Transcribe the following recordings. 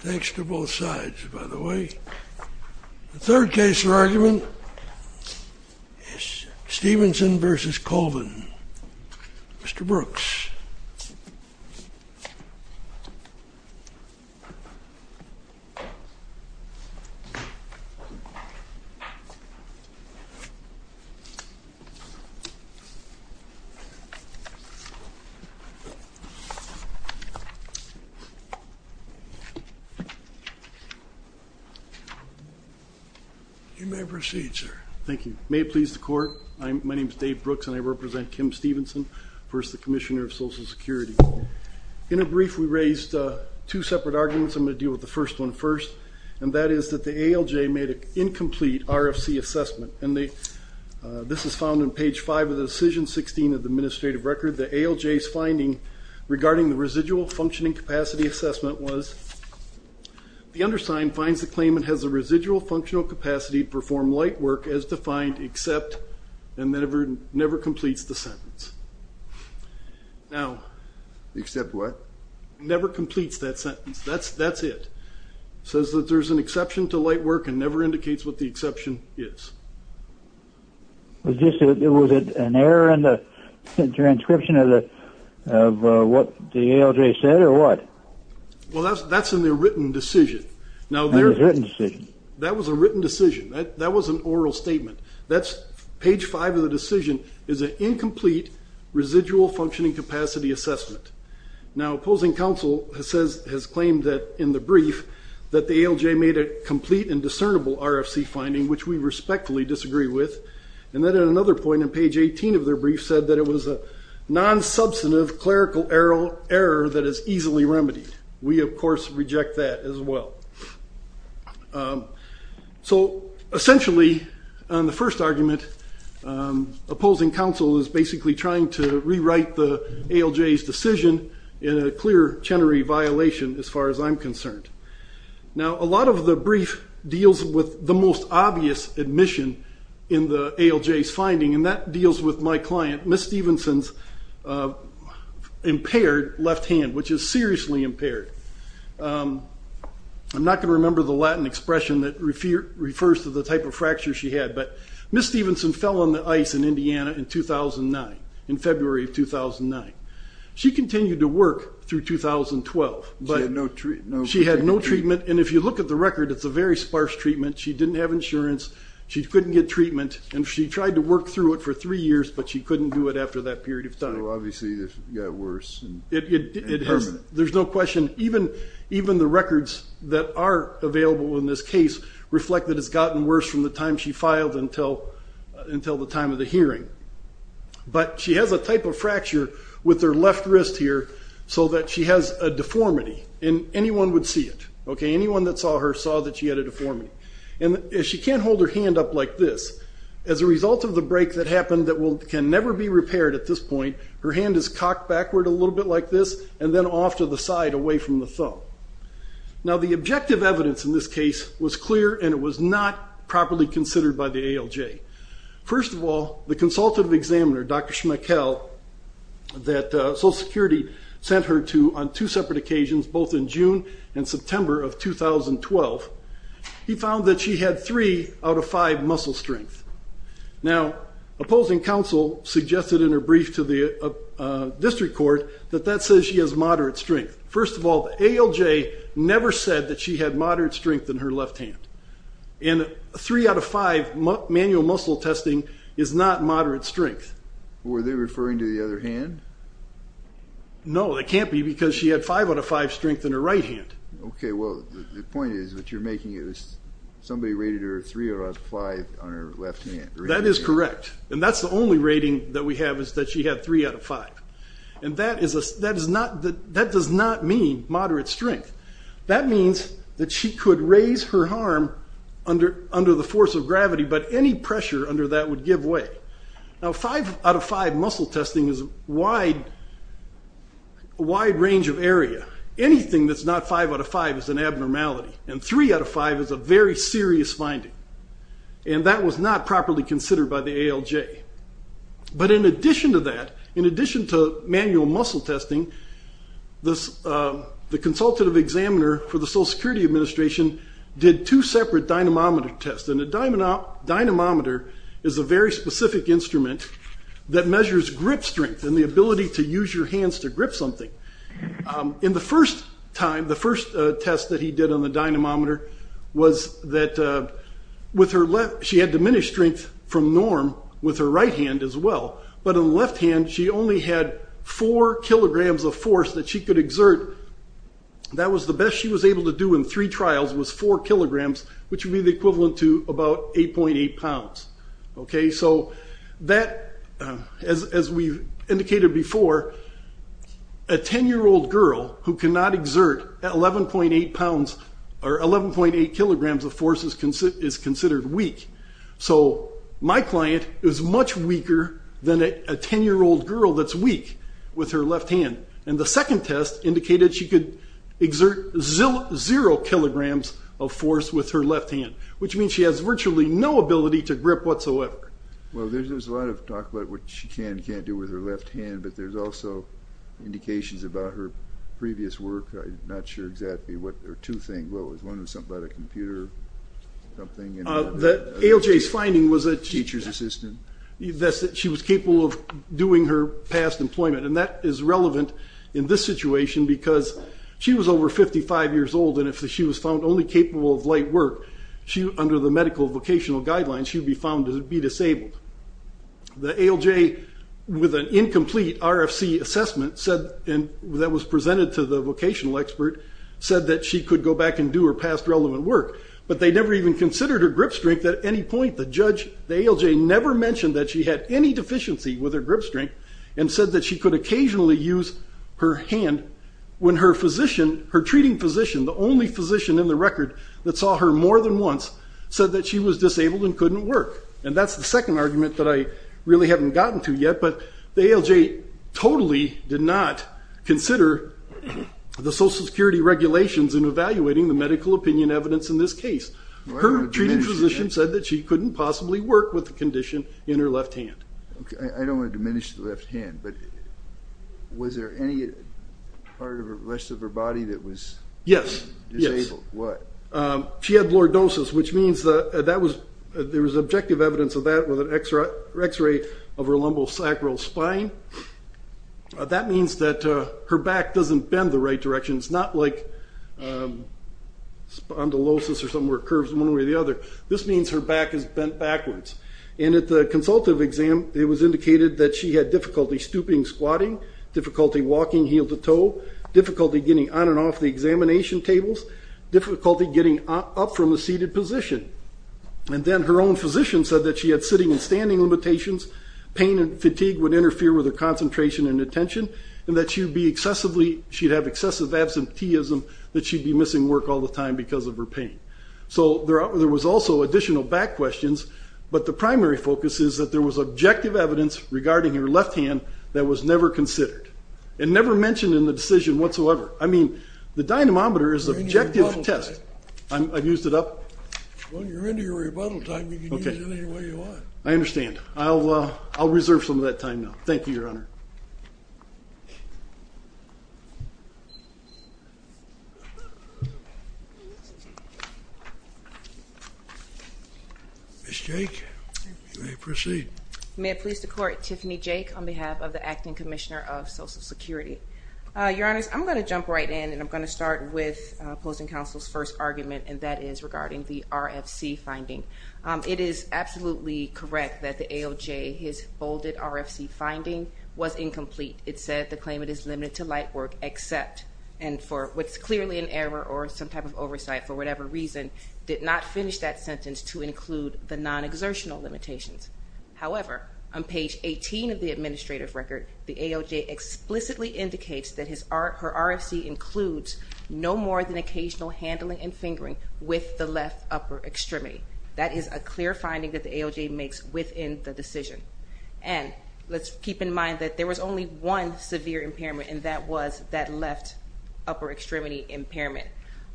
Thanks to both sides, by the way. The third case for argument is Stevenson v. Colvin. Mr. Brooks. You may proceed, sir. Thank you. May it please the Court, my name is Dave Brooks and I represent Kim Stevenson v. the Commissioner of Social Security. In a brief, we raised two separate arguments. I'm going to deal with the first one first, and that is that the ALJ made an incomplete RFC assessment, and this is found on page 5 of the decision, 16 of the administrative record. The ALJ's finding regarding the residual functioning capacity assessment was, the undersigned finds the claimant has a residual functional capacity to perform light work as defined, except and never completes the sentence. Except what? Never completes that sentence. That's it. It says that there's an exception to light work and never indicates what the exception is. Was it an error in the transcription of what the ALJ said, or what? Well, that's in the written decision. In the written decision. That was a written decision. That was an oral statement. Page 5 of the decision is an incomplete residual functioning capacity assessment. Now, opposing counsel has claimed that, in the brief, that the ALJ made a complete and discernible RFC finding, which we respectfully disagree with, and then at another point on page 18 of their brief said that it was a non-substantive clerical error that is easily remedied. We, of course, reject that as well. So, essentially, on the first argument, opposing counsel is basically trying to rewrite the ALJ's decision in a clear Chenery violation, as far as I'm concerned. Now, a lot of the brief deals with the most obvious admission in the ALJ's finding, and that deals with my client, Ms. Stephenson's impaired left hand, which is seriously impaired. I'm not going to remember the Latin expression that refers to the type of fracture she had, but Ms. Stephenson fell on the ice in Indiana in 2009, in February of 2009. She continued to work through 2012, but she had no treatment. And if you look at the record, it's a very sparse treatment. She didn't have insurance. She couldn't get treatment, and she tried to work through it for three years, but she couldn't do it after that period of time. So, obviously, it got worse and permanent. There's no question. Even the records that are available in this case reflect that it's gotten worse from the time she filed until the time of the hearing. But she has a type of fracture with her left wrist here, so that she has a deformity. And anyone would see it. Anyone that saw her saw that she had a deformity. And she can't hold her hand up like this. As a result of the break that happened that can never be repaired at this point, her hand is cocked backward a little bit like this, and then off to the side, away from the thumb. Now, the objective evidence in this case was clear, and it was not properly considered by the ALJ. First of all, the consultative examiner, Dr. Schmeichel, that Social Security sent her to on two separate occasions, both in June and September of 2012, he found that she had three out of five muscle strength. Now, opposing counsel suggested in her brief to the district court that that says she has moderate strength. First of all, the ALJ never said that she had moderate strength in her left hand. And three out of five manual muscle testing is not moderate strength. Were they referring to the other hand? No, they can't be because she had five out of five strength in her right hand. Okay, well, the point is that you're making it as somebody rated her three out of five on her left hand. That is correct. And that's the only rating that we have is that she had three out of five. And that does not mean moderate strength. That means that she could raise her arm under the force of gravity, but any pressure under that would give way. Now, five out of five muscle testing is a wide range of area. Anything that's not five out of five is an abnormality. And three out of five is a very serious finding. And that was not properly considered by the ALJ. But in addition to that, in addition to manual muscle testing, the consultative examiner for the Social Security Administration did two separate dynamometer tests. And a dynamometer is a very specific instrument that measures grip strength and the ability to use your hands to grip something. In the first time, the first test that he did on the dynamometer was that she had diminished strength from norm with her right hand as well. But in the left hand, she only had four kilograms of force that she could exert. That was the best she was able to do in three trials was four kilograms, which would be the equivalent to about 8.8 pounds. So that, as we indicated before, a 10-year-old girl who cannot exert 11.8 pounds or 11.8 kilograms of force is considered weak. So my client is much weaker than a 10-year-old girl that's weak with her left hand. And the second test indicated she could exert zero kilograms of force with her left hand, which means she has virtually no ability to grip whatsoever. Well, there's a lot of talk about what she can and can't do with her left hand, but there's also indications about her previous work. I'm not sure exactly what, or two things. Well, it was something about a computer or something. ALJ's finding was that she was capable of doing her past employment, and that is relevant in this situation because she was over 55 years old, and if she was found only capable of light work, under the medical vocational guidelines, she would be found to be disabled. The ALJ, with an incomplete RFC assessment that was presented to the vocational expert, said that she could go back and do her past relevant work, but they never even considered her grip strength at any point. The judge, the ALJ, never mentioned that she had any deficiency with her grip strength and said that she could occasionally use her hand when her physician, her treating physician, the only physician in the record that saw her more than once, said that she was disabled and couldn't work. And that's the second argument that I really haven't gotten to yet, but the ALJ totally did not consider the Social Security regulations in evaluating the medical opinion evidence in this case. Her treating physician said that she couldn't possibly work with the condition in her left hand. Okay, I don't want to diminish the left hand, but was there any part of the rest of her body that was disabled? Yes. What? She had lordosis, which means that there was objective evidence of that with an X-ray of her lumbosacral spine. That means that her back doesn't bend the right direction. It's not like spondylosis or something where it curves one way or the other. This means her back is bent backwards. And at the consultative exam, it was indicated that she had difficulty stooping, squatting, difficulty walking heel to toe, difficulty getting on and off the examination tables, difficulty getting up from a seated position. And then her own physician said that she had sitting and standing limitations, pain and fatigue would interfere with her concentration and attention, and that she'd have excessive absenteeism, that she'd be missing work all the time because of her pain. So there was also additional back questions, but the primary focus is that there was objective evidence regarding her left hand that was never considered and never mentioned in the decision whatsoever. I mean, the dynamometer is an objective test. I've used it up? When you're into your rebuttal time, you can use it any way you want. I understand. I'll reserve some of that time now. Thank you, Your Honor. Ms. Jake, you may proceed. May it please the Court, Tiffany Jake on behalf of the Acting Commissioner of Social Security. Your Honors, I'm going to jump right in, and I'm going to start with opposing counsel's first argument, and that is regarding the RFC finding. It is absolutely correct that the AOJ, his bolded RFC finding, was incomplete. It said the claimant is limited to light work except, and for what's clearly an error or some type of oversight for whatever reason, did not finish that sentence to include the non-exertional limitations. However, on page 18 of the administrative record, the AOJ explicitly indicates that her RFC includes no more than occasional handling and fingering with the left upper extremity. That is a clear finding that the AOJ makes within the decision. And let's keep in mind that there was only one severe impairment, and that was that left upper extremity impairment.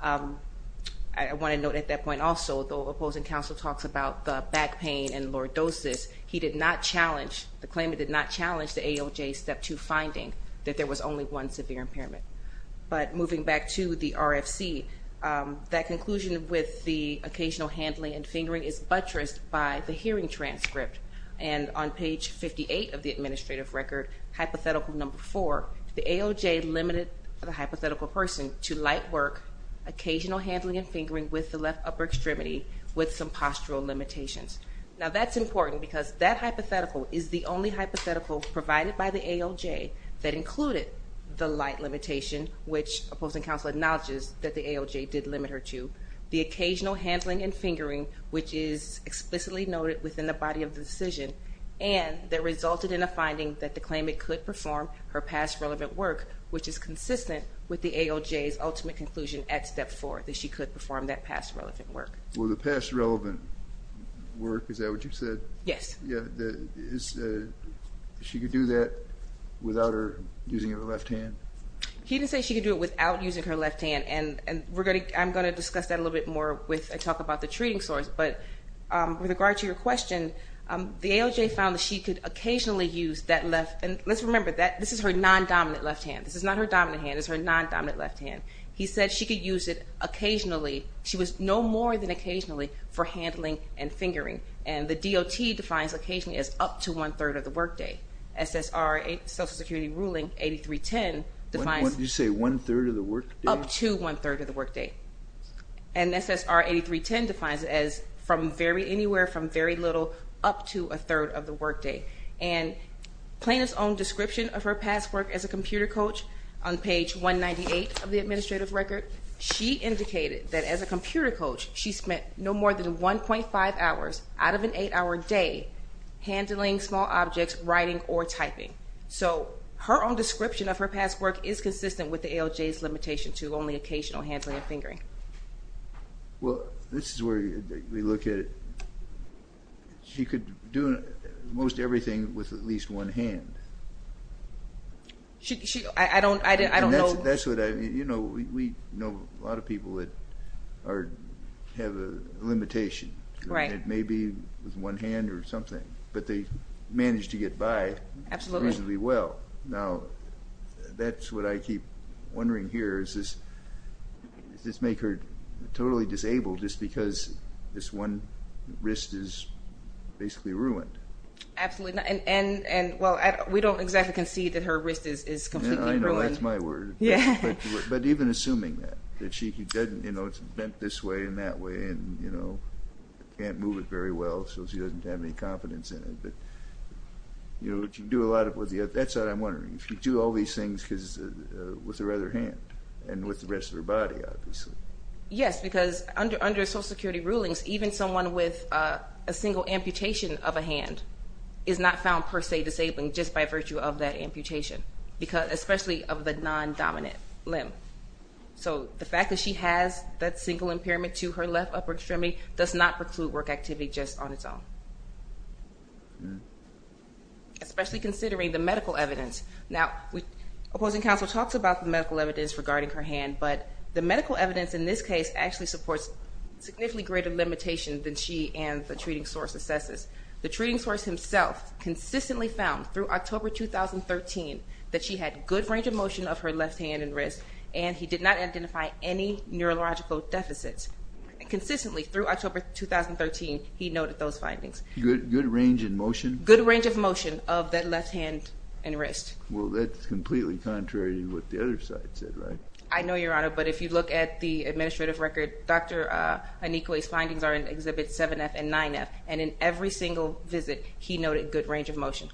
I want to note at that point also, though opposing counsel talks about the back pain and lordosis, he did not challenge, the claimant did not challenge the AOJ's Step 2 finding that there was only one severe impairment. But moving back to the RFC, that conclusion with the occasional handling and fingering is buttressed by the hearing transcript. And on page 58 of the administrative record, hypothetical number 4, the AOJ limited the hypothetical person to light work, occasional handling and fingering with the left upper extremity, with some postural limitations. Now that's important because that hypothetical is the only hypothetical provided by the AOJ that included the light limitation, which opposing counsel acknowledges that the AOJ did limit her to, the occasional handling and fingering, which is explicitly noted within the body of the decision, and that resulted in a finding that the claimant could perform her past relevant work, which is consistent with the AOJ's ultimate conclusion at Step 4, that she could perform that past relevant work. Well, the past relevant work, is that what you said? Yes. Yeah, she could do that without her using her left hand? He didn't say she could do it without using her left hand, and I'm going to discuss that a little bit more when I talk about the treating source. But with regard to your question, the AOJ found that she could occasionally use that left, and let's remember that this is her non-dominant left hand. This is not her dominant hand. It's her non-dominant left hand. He said she could use it occasionally. She was no more than occasionally for handling and fingering, and the DOT defines occasionally as up to one-third of the workday. SSR Social Security ruling 8310 defines. Did you say one-third of the workday? Up to one-third of the workday. And SSR 8310 defines it as anywhere from very little up to a third of the workday. And plaintiff's own description of her past work as a computer coach, on page 198 of the administrative record, she indicated that as a computer coach, she spent no more than 1.5 hours out of an 8-hour day handling small objects, writing, or typing. So her own description of her past work is consistent with the AOJ's limitation to only occasional handling and fingering. Well, this is where we look at it. She could do most everything with at least one hand. I don't know. That's what I mean. You know, we know a lot of people that have a limitation. Right. It may be with one hand or something, but they manage to get by reasonably well. Now, that's what I keep wondering here. Does this make her totally disabled just because this one wrist is basically ruined? Absolutely not. And, well, we don't exactly concede that her wrist is completely ruined. Yeah, I know. That's my word. But even assuming that, that she doesn't, you know, it's bent this way and that way and, you know, can't move it very well so she doesn't have any confidence in it. But, you know, she can do a lot with the other. That's what I'm wondering. She can do all these things with her other hand and with the rest of her body, obviously. Yes, because under Social Security rulings, even someone with a single amputation of a hand is not found, per se, disabled just by virtue of that amputation, especially of the non-dominant limb. So the fact that she has that single impairment to her left upper extremity does not preclude work activity just on its own, especially considering the medical evidence. Now, opposing counsel talks about the medical evidence regarding her hand, but the medical evidence in this case actually supports significantly greater limitation than she and the treating source assesses. The treating source himself consistently found through October 2013 that she had good range of motion of her left hand and wrist and he did not identify any neurological deficits. Consistently, through October 2013, he noted those findings. Good range in motion? Good range of motion of that left hand and wrist. Well, that's completely contrary to what the other side said, right? I know, Your Honor, but if you look at the administrative record, Dr. Anikwe's findings are in Exhibit 7F and 9F, and in every single visit he noted good range of motion.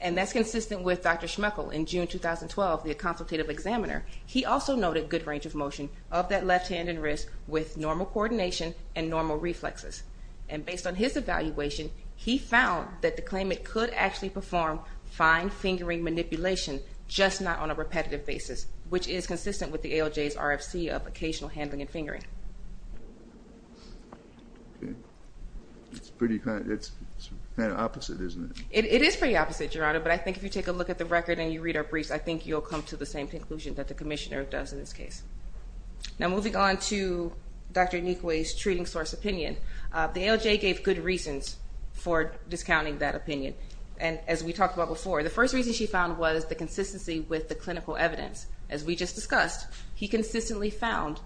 And that's consistent with Dr. Schmeichel in June 2012, the consultative examiner. He also noted good range of motion of that left hand and wrist with normal coordination and normal reflexes. And based on his evaluation, he found that the claimant could actually perform fine fingering manipulation, just not on a repetitive basis, which is consistent with the ALJ's RFC of occasional handling and fingering. Okay. It's pretty kind of opposite, isn't it? It is pretty opposite, Your Honor, but I think if you take a look at the record and you read our briefs, I think you'll come to the same conclusion that the commissioner does in this case. Now moving on to Dr. Anikwe's treating source opinion, the ALJ gave good reasons for discounting that opinion. And as we talked about before, the first reason she found was the consistency with the clinical evidence. As we just discussed, he consistently found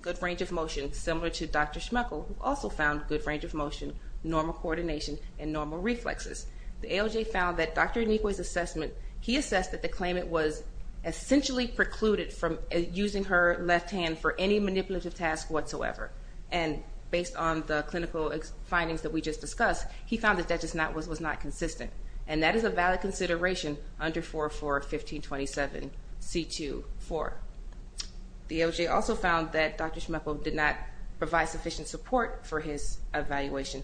good range of motion, similar to Dr. Schmeichel, who also found good range of motion, normal coordination, and normal reflexes. The ALJ found that Dr. Anikwe's assessment, he assessed that the claimant was essentially precluded from using her left hand for any manipulative task whatsoever. And based on the clinical findings that we just discussed, he found that that just was not consistent. And that is a valid consideration under 404-1527-C2-4. The ALJ also found that Dr. Schmeichel did not provide sufficient support for his evaluation.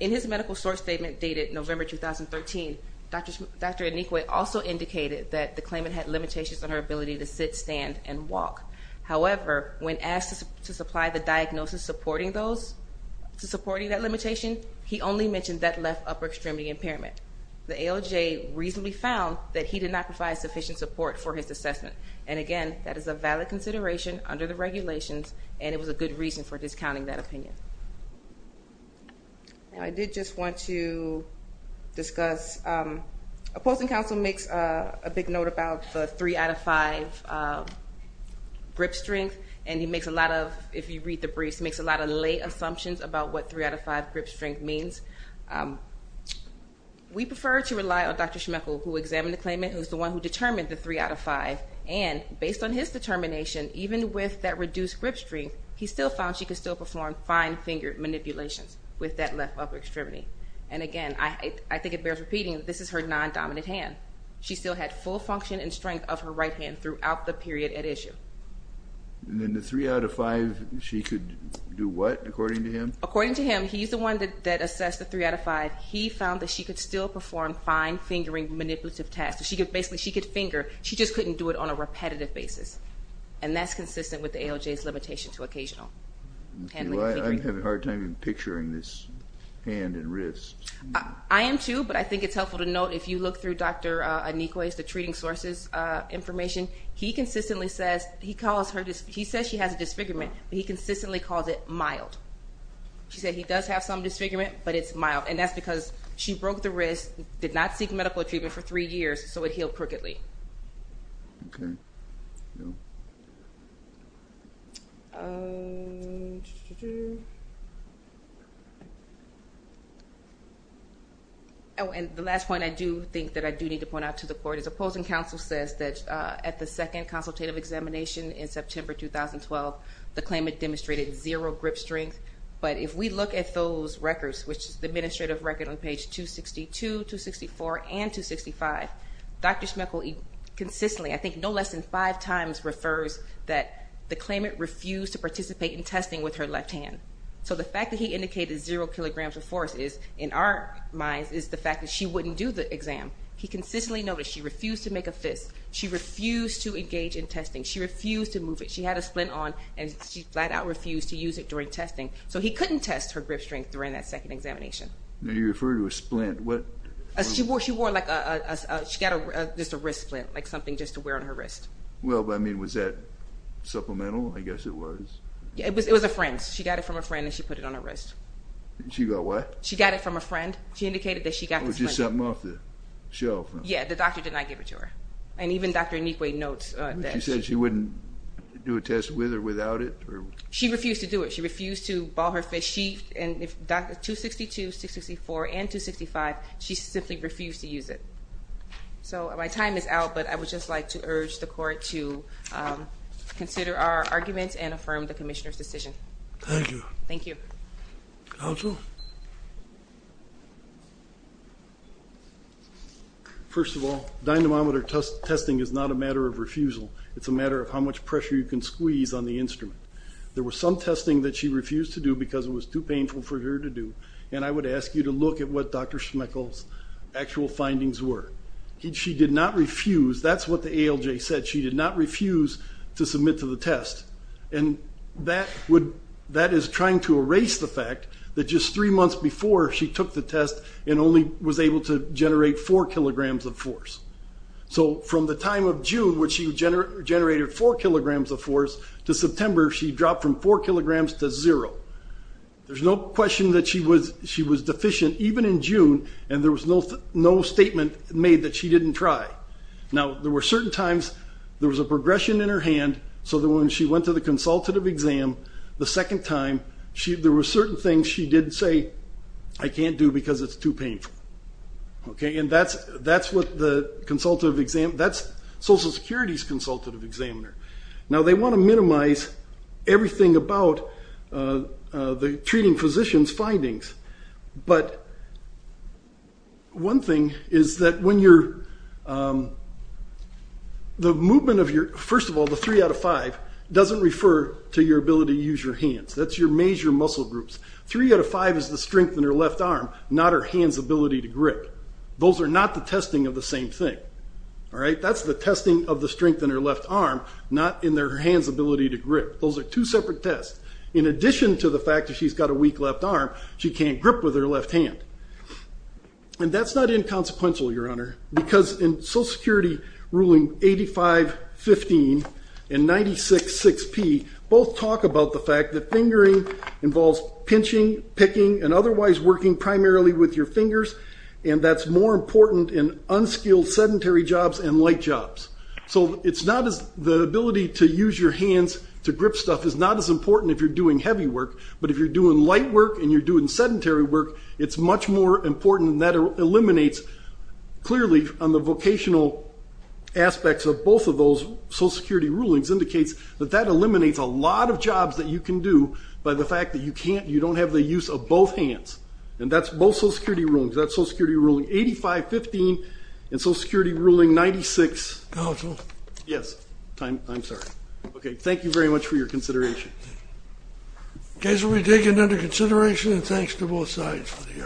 In his medical source statement dated November 2013, Dr. Anikwe also indicated that the claimant had limitations on her ability to sit, stand, and walk. However, when asked to supply the diagnosis supporting that limitation, he only mentioned that left upper extremity impairment. The ALJ reasonably found that he did not provide sufficient support for his assessment. And again, that is a valid consideration under the regulations, and it was a good reason for discounting that opinion. I did just want to discuss, opposing counsel makes a big note about the three out of five grip strength, and he makes a lot of, if you read the briefs, he makes a lot of lay assumptions about what three out of five grip strength means. We prefer to rely on Dr. Schmeichel, who examined the claimant, who's the one who determined the three out of five. And based on his determination, even with that reduced grip strength, he still found she could still perform fine-fingered manipulations with that left upper extremity. And again, I think it bears repeating that this is her non-dominant hand. She still had full function and strength of her right hand throughout the period at issue. And then the three out of five, she could do what, according to him? According to him, he's the one that assessed the three out of five. He found that she could still perform fine-fingering manipulative tasks. Basically, she could finger. She just couldn't do it on a repetitive basis, and that's consistent with the ALJ's limitation to occasional handling of fingering. I'm having a hard time picturing this hand and wrist. I am too, but I think it's helpful to note, if you look through Dr. Anikwe's, the treating sources information, he says she has a disfigurement, but he consistently calls it mild. She said he does have some disfigurement, but it's mild, and that's because she broke the wrist, did not seek medical treatment for three years, so it healed crookedly. Oh, and the last point I do think that I do need to point out to the court is opposing counsel says that at the second consultative examination in September 2012, the claimant demonstrated zero grip strength, but if we look at those records, which is the administrative record on page 262, 264, and 265, Dr. Schmeichel consistently, I think no less than five times, refers that the claimant refused to participate in testing with her left hand. So the fact that he indicated zero kilograms of force in our minds is the fact that she wouldn't do the exam. He consistently noted she refused to make a fist. She refused to engage in testing. She refused to move it. She had a splint on, and she flat out refused to use it during testing. So he couldn't test her grip strength during that second examination. You refer to a splint. She wore like a, she got just a wrist splint, like something just to wear on her wrist. Well, I mean, was that supplemental? I guess it was. It was a friend's. She got it from a friend, and she put it on her wrist. She got what? She got it from a friend. She indicated that she got the splint. It was just something off the shelf. Yeah, the doctor did not give it to her. And even Dr. Nequay notes that. She said she wouldn't do a test with or without it? She refused to do it. She refused to ball her fist. She, 262, 264, and 265, she simply refused to use it. So my time is out, but I would just like to urge the court to consider our arguments and affirm the commissioner's decision. Thank you. Thank you. Counsel? First of all, dynamometer testing is not a matter of refusal. It's a matter of how much pressure you can squeeze on the instrument. There was some testing that she refused to do because it was too painful for her to do, and I would ask you to look at what Dr. Schmeichel's actual findings were. She did not refuse. That's what the ALJ said. She did not refuse to submit to the test. And that is trying to erase the fact that just three months before, she took the test and only was able to generate four kilograms of force. So from the time of June, which she generated four kilograms of force, to September, she dropped from four kilograms to zero. There's no question that she was deficient, even in June, and there was no statement made that she didn't try. Now, there were certain times there was a progression in her hand so that when she went to the consultative exam the second time, there were certain things she did say, I can't do because it's too painful. And that's what the consultative examiner, that's Social Security's consultative examiner. Now, they want to minimize everything about the treating physician's findings. But one thing is that the movement of your, first of all, the three out of five, doesn't refer to your ability to use your hands. That's your major muscle groups. Three out of five is the strength in her left arm, not her hand's ability to grip. Those are not the testing of the same thing. That's the testing of the strength in her left arm, not in her hand's ability to grip. Those are two separate tests. In addition to the fact that she's got a weak left arm, she can't grip with her left hand. And that's not inconsequential, Your Honor, because in Social Security ruling 85-15 and 96-6P, both talk about the fact that fingering involves pinching, picking, and otherwise working primarily with your fingers, and that's more important in unskilled sedentary jobs and light jobs. So the ability to use your hands to grip stuff is not as important if you're doing heavy work, but if you're doing light work and you're doing sedentary work, it's much more important, and that eliminates clearly on the vocational aspects of both of those. Social Security rulings indicates that that eliminates a lot of jobs that you can do by the fact that you don't have the use of both hands, and that's both Social Security rulings. That's Social Security ruling 85-15 and Social Security ruling 96. Counsel? Yes. I'm sorry. Okay. Thank you very much for your consideration. The case will be taken under consideration, and thanks to both sides for the hearing.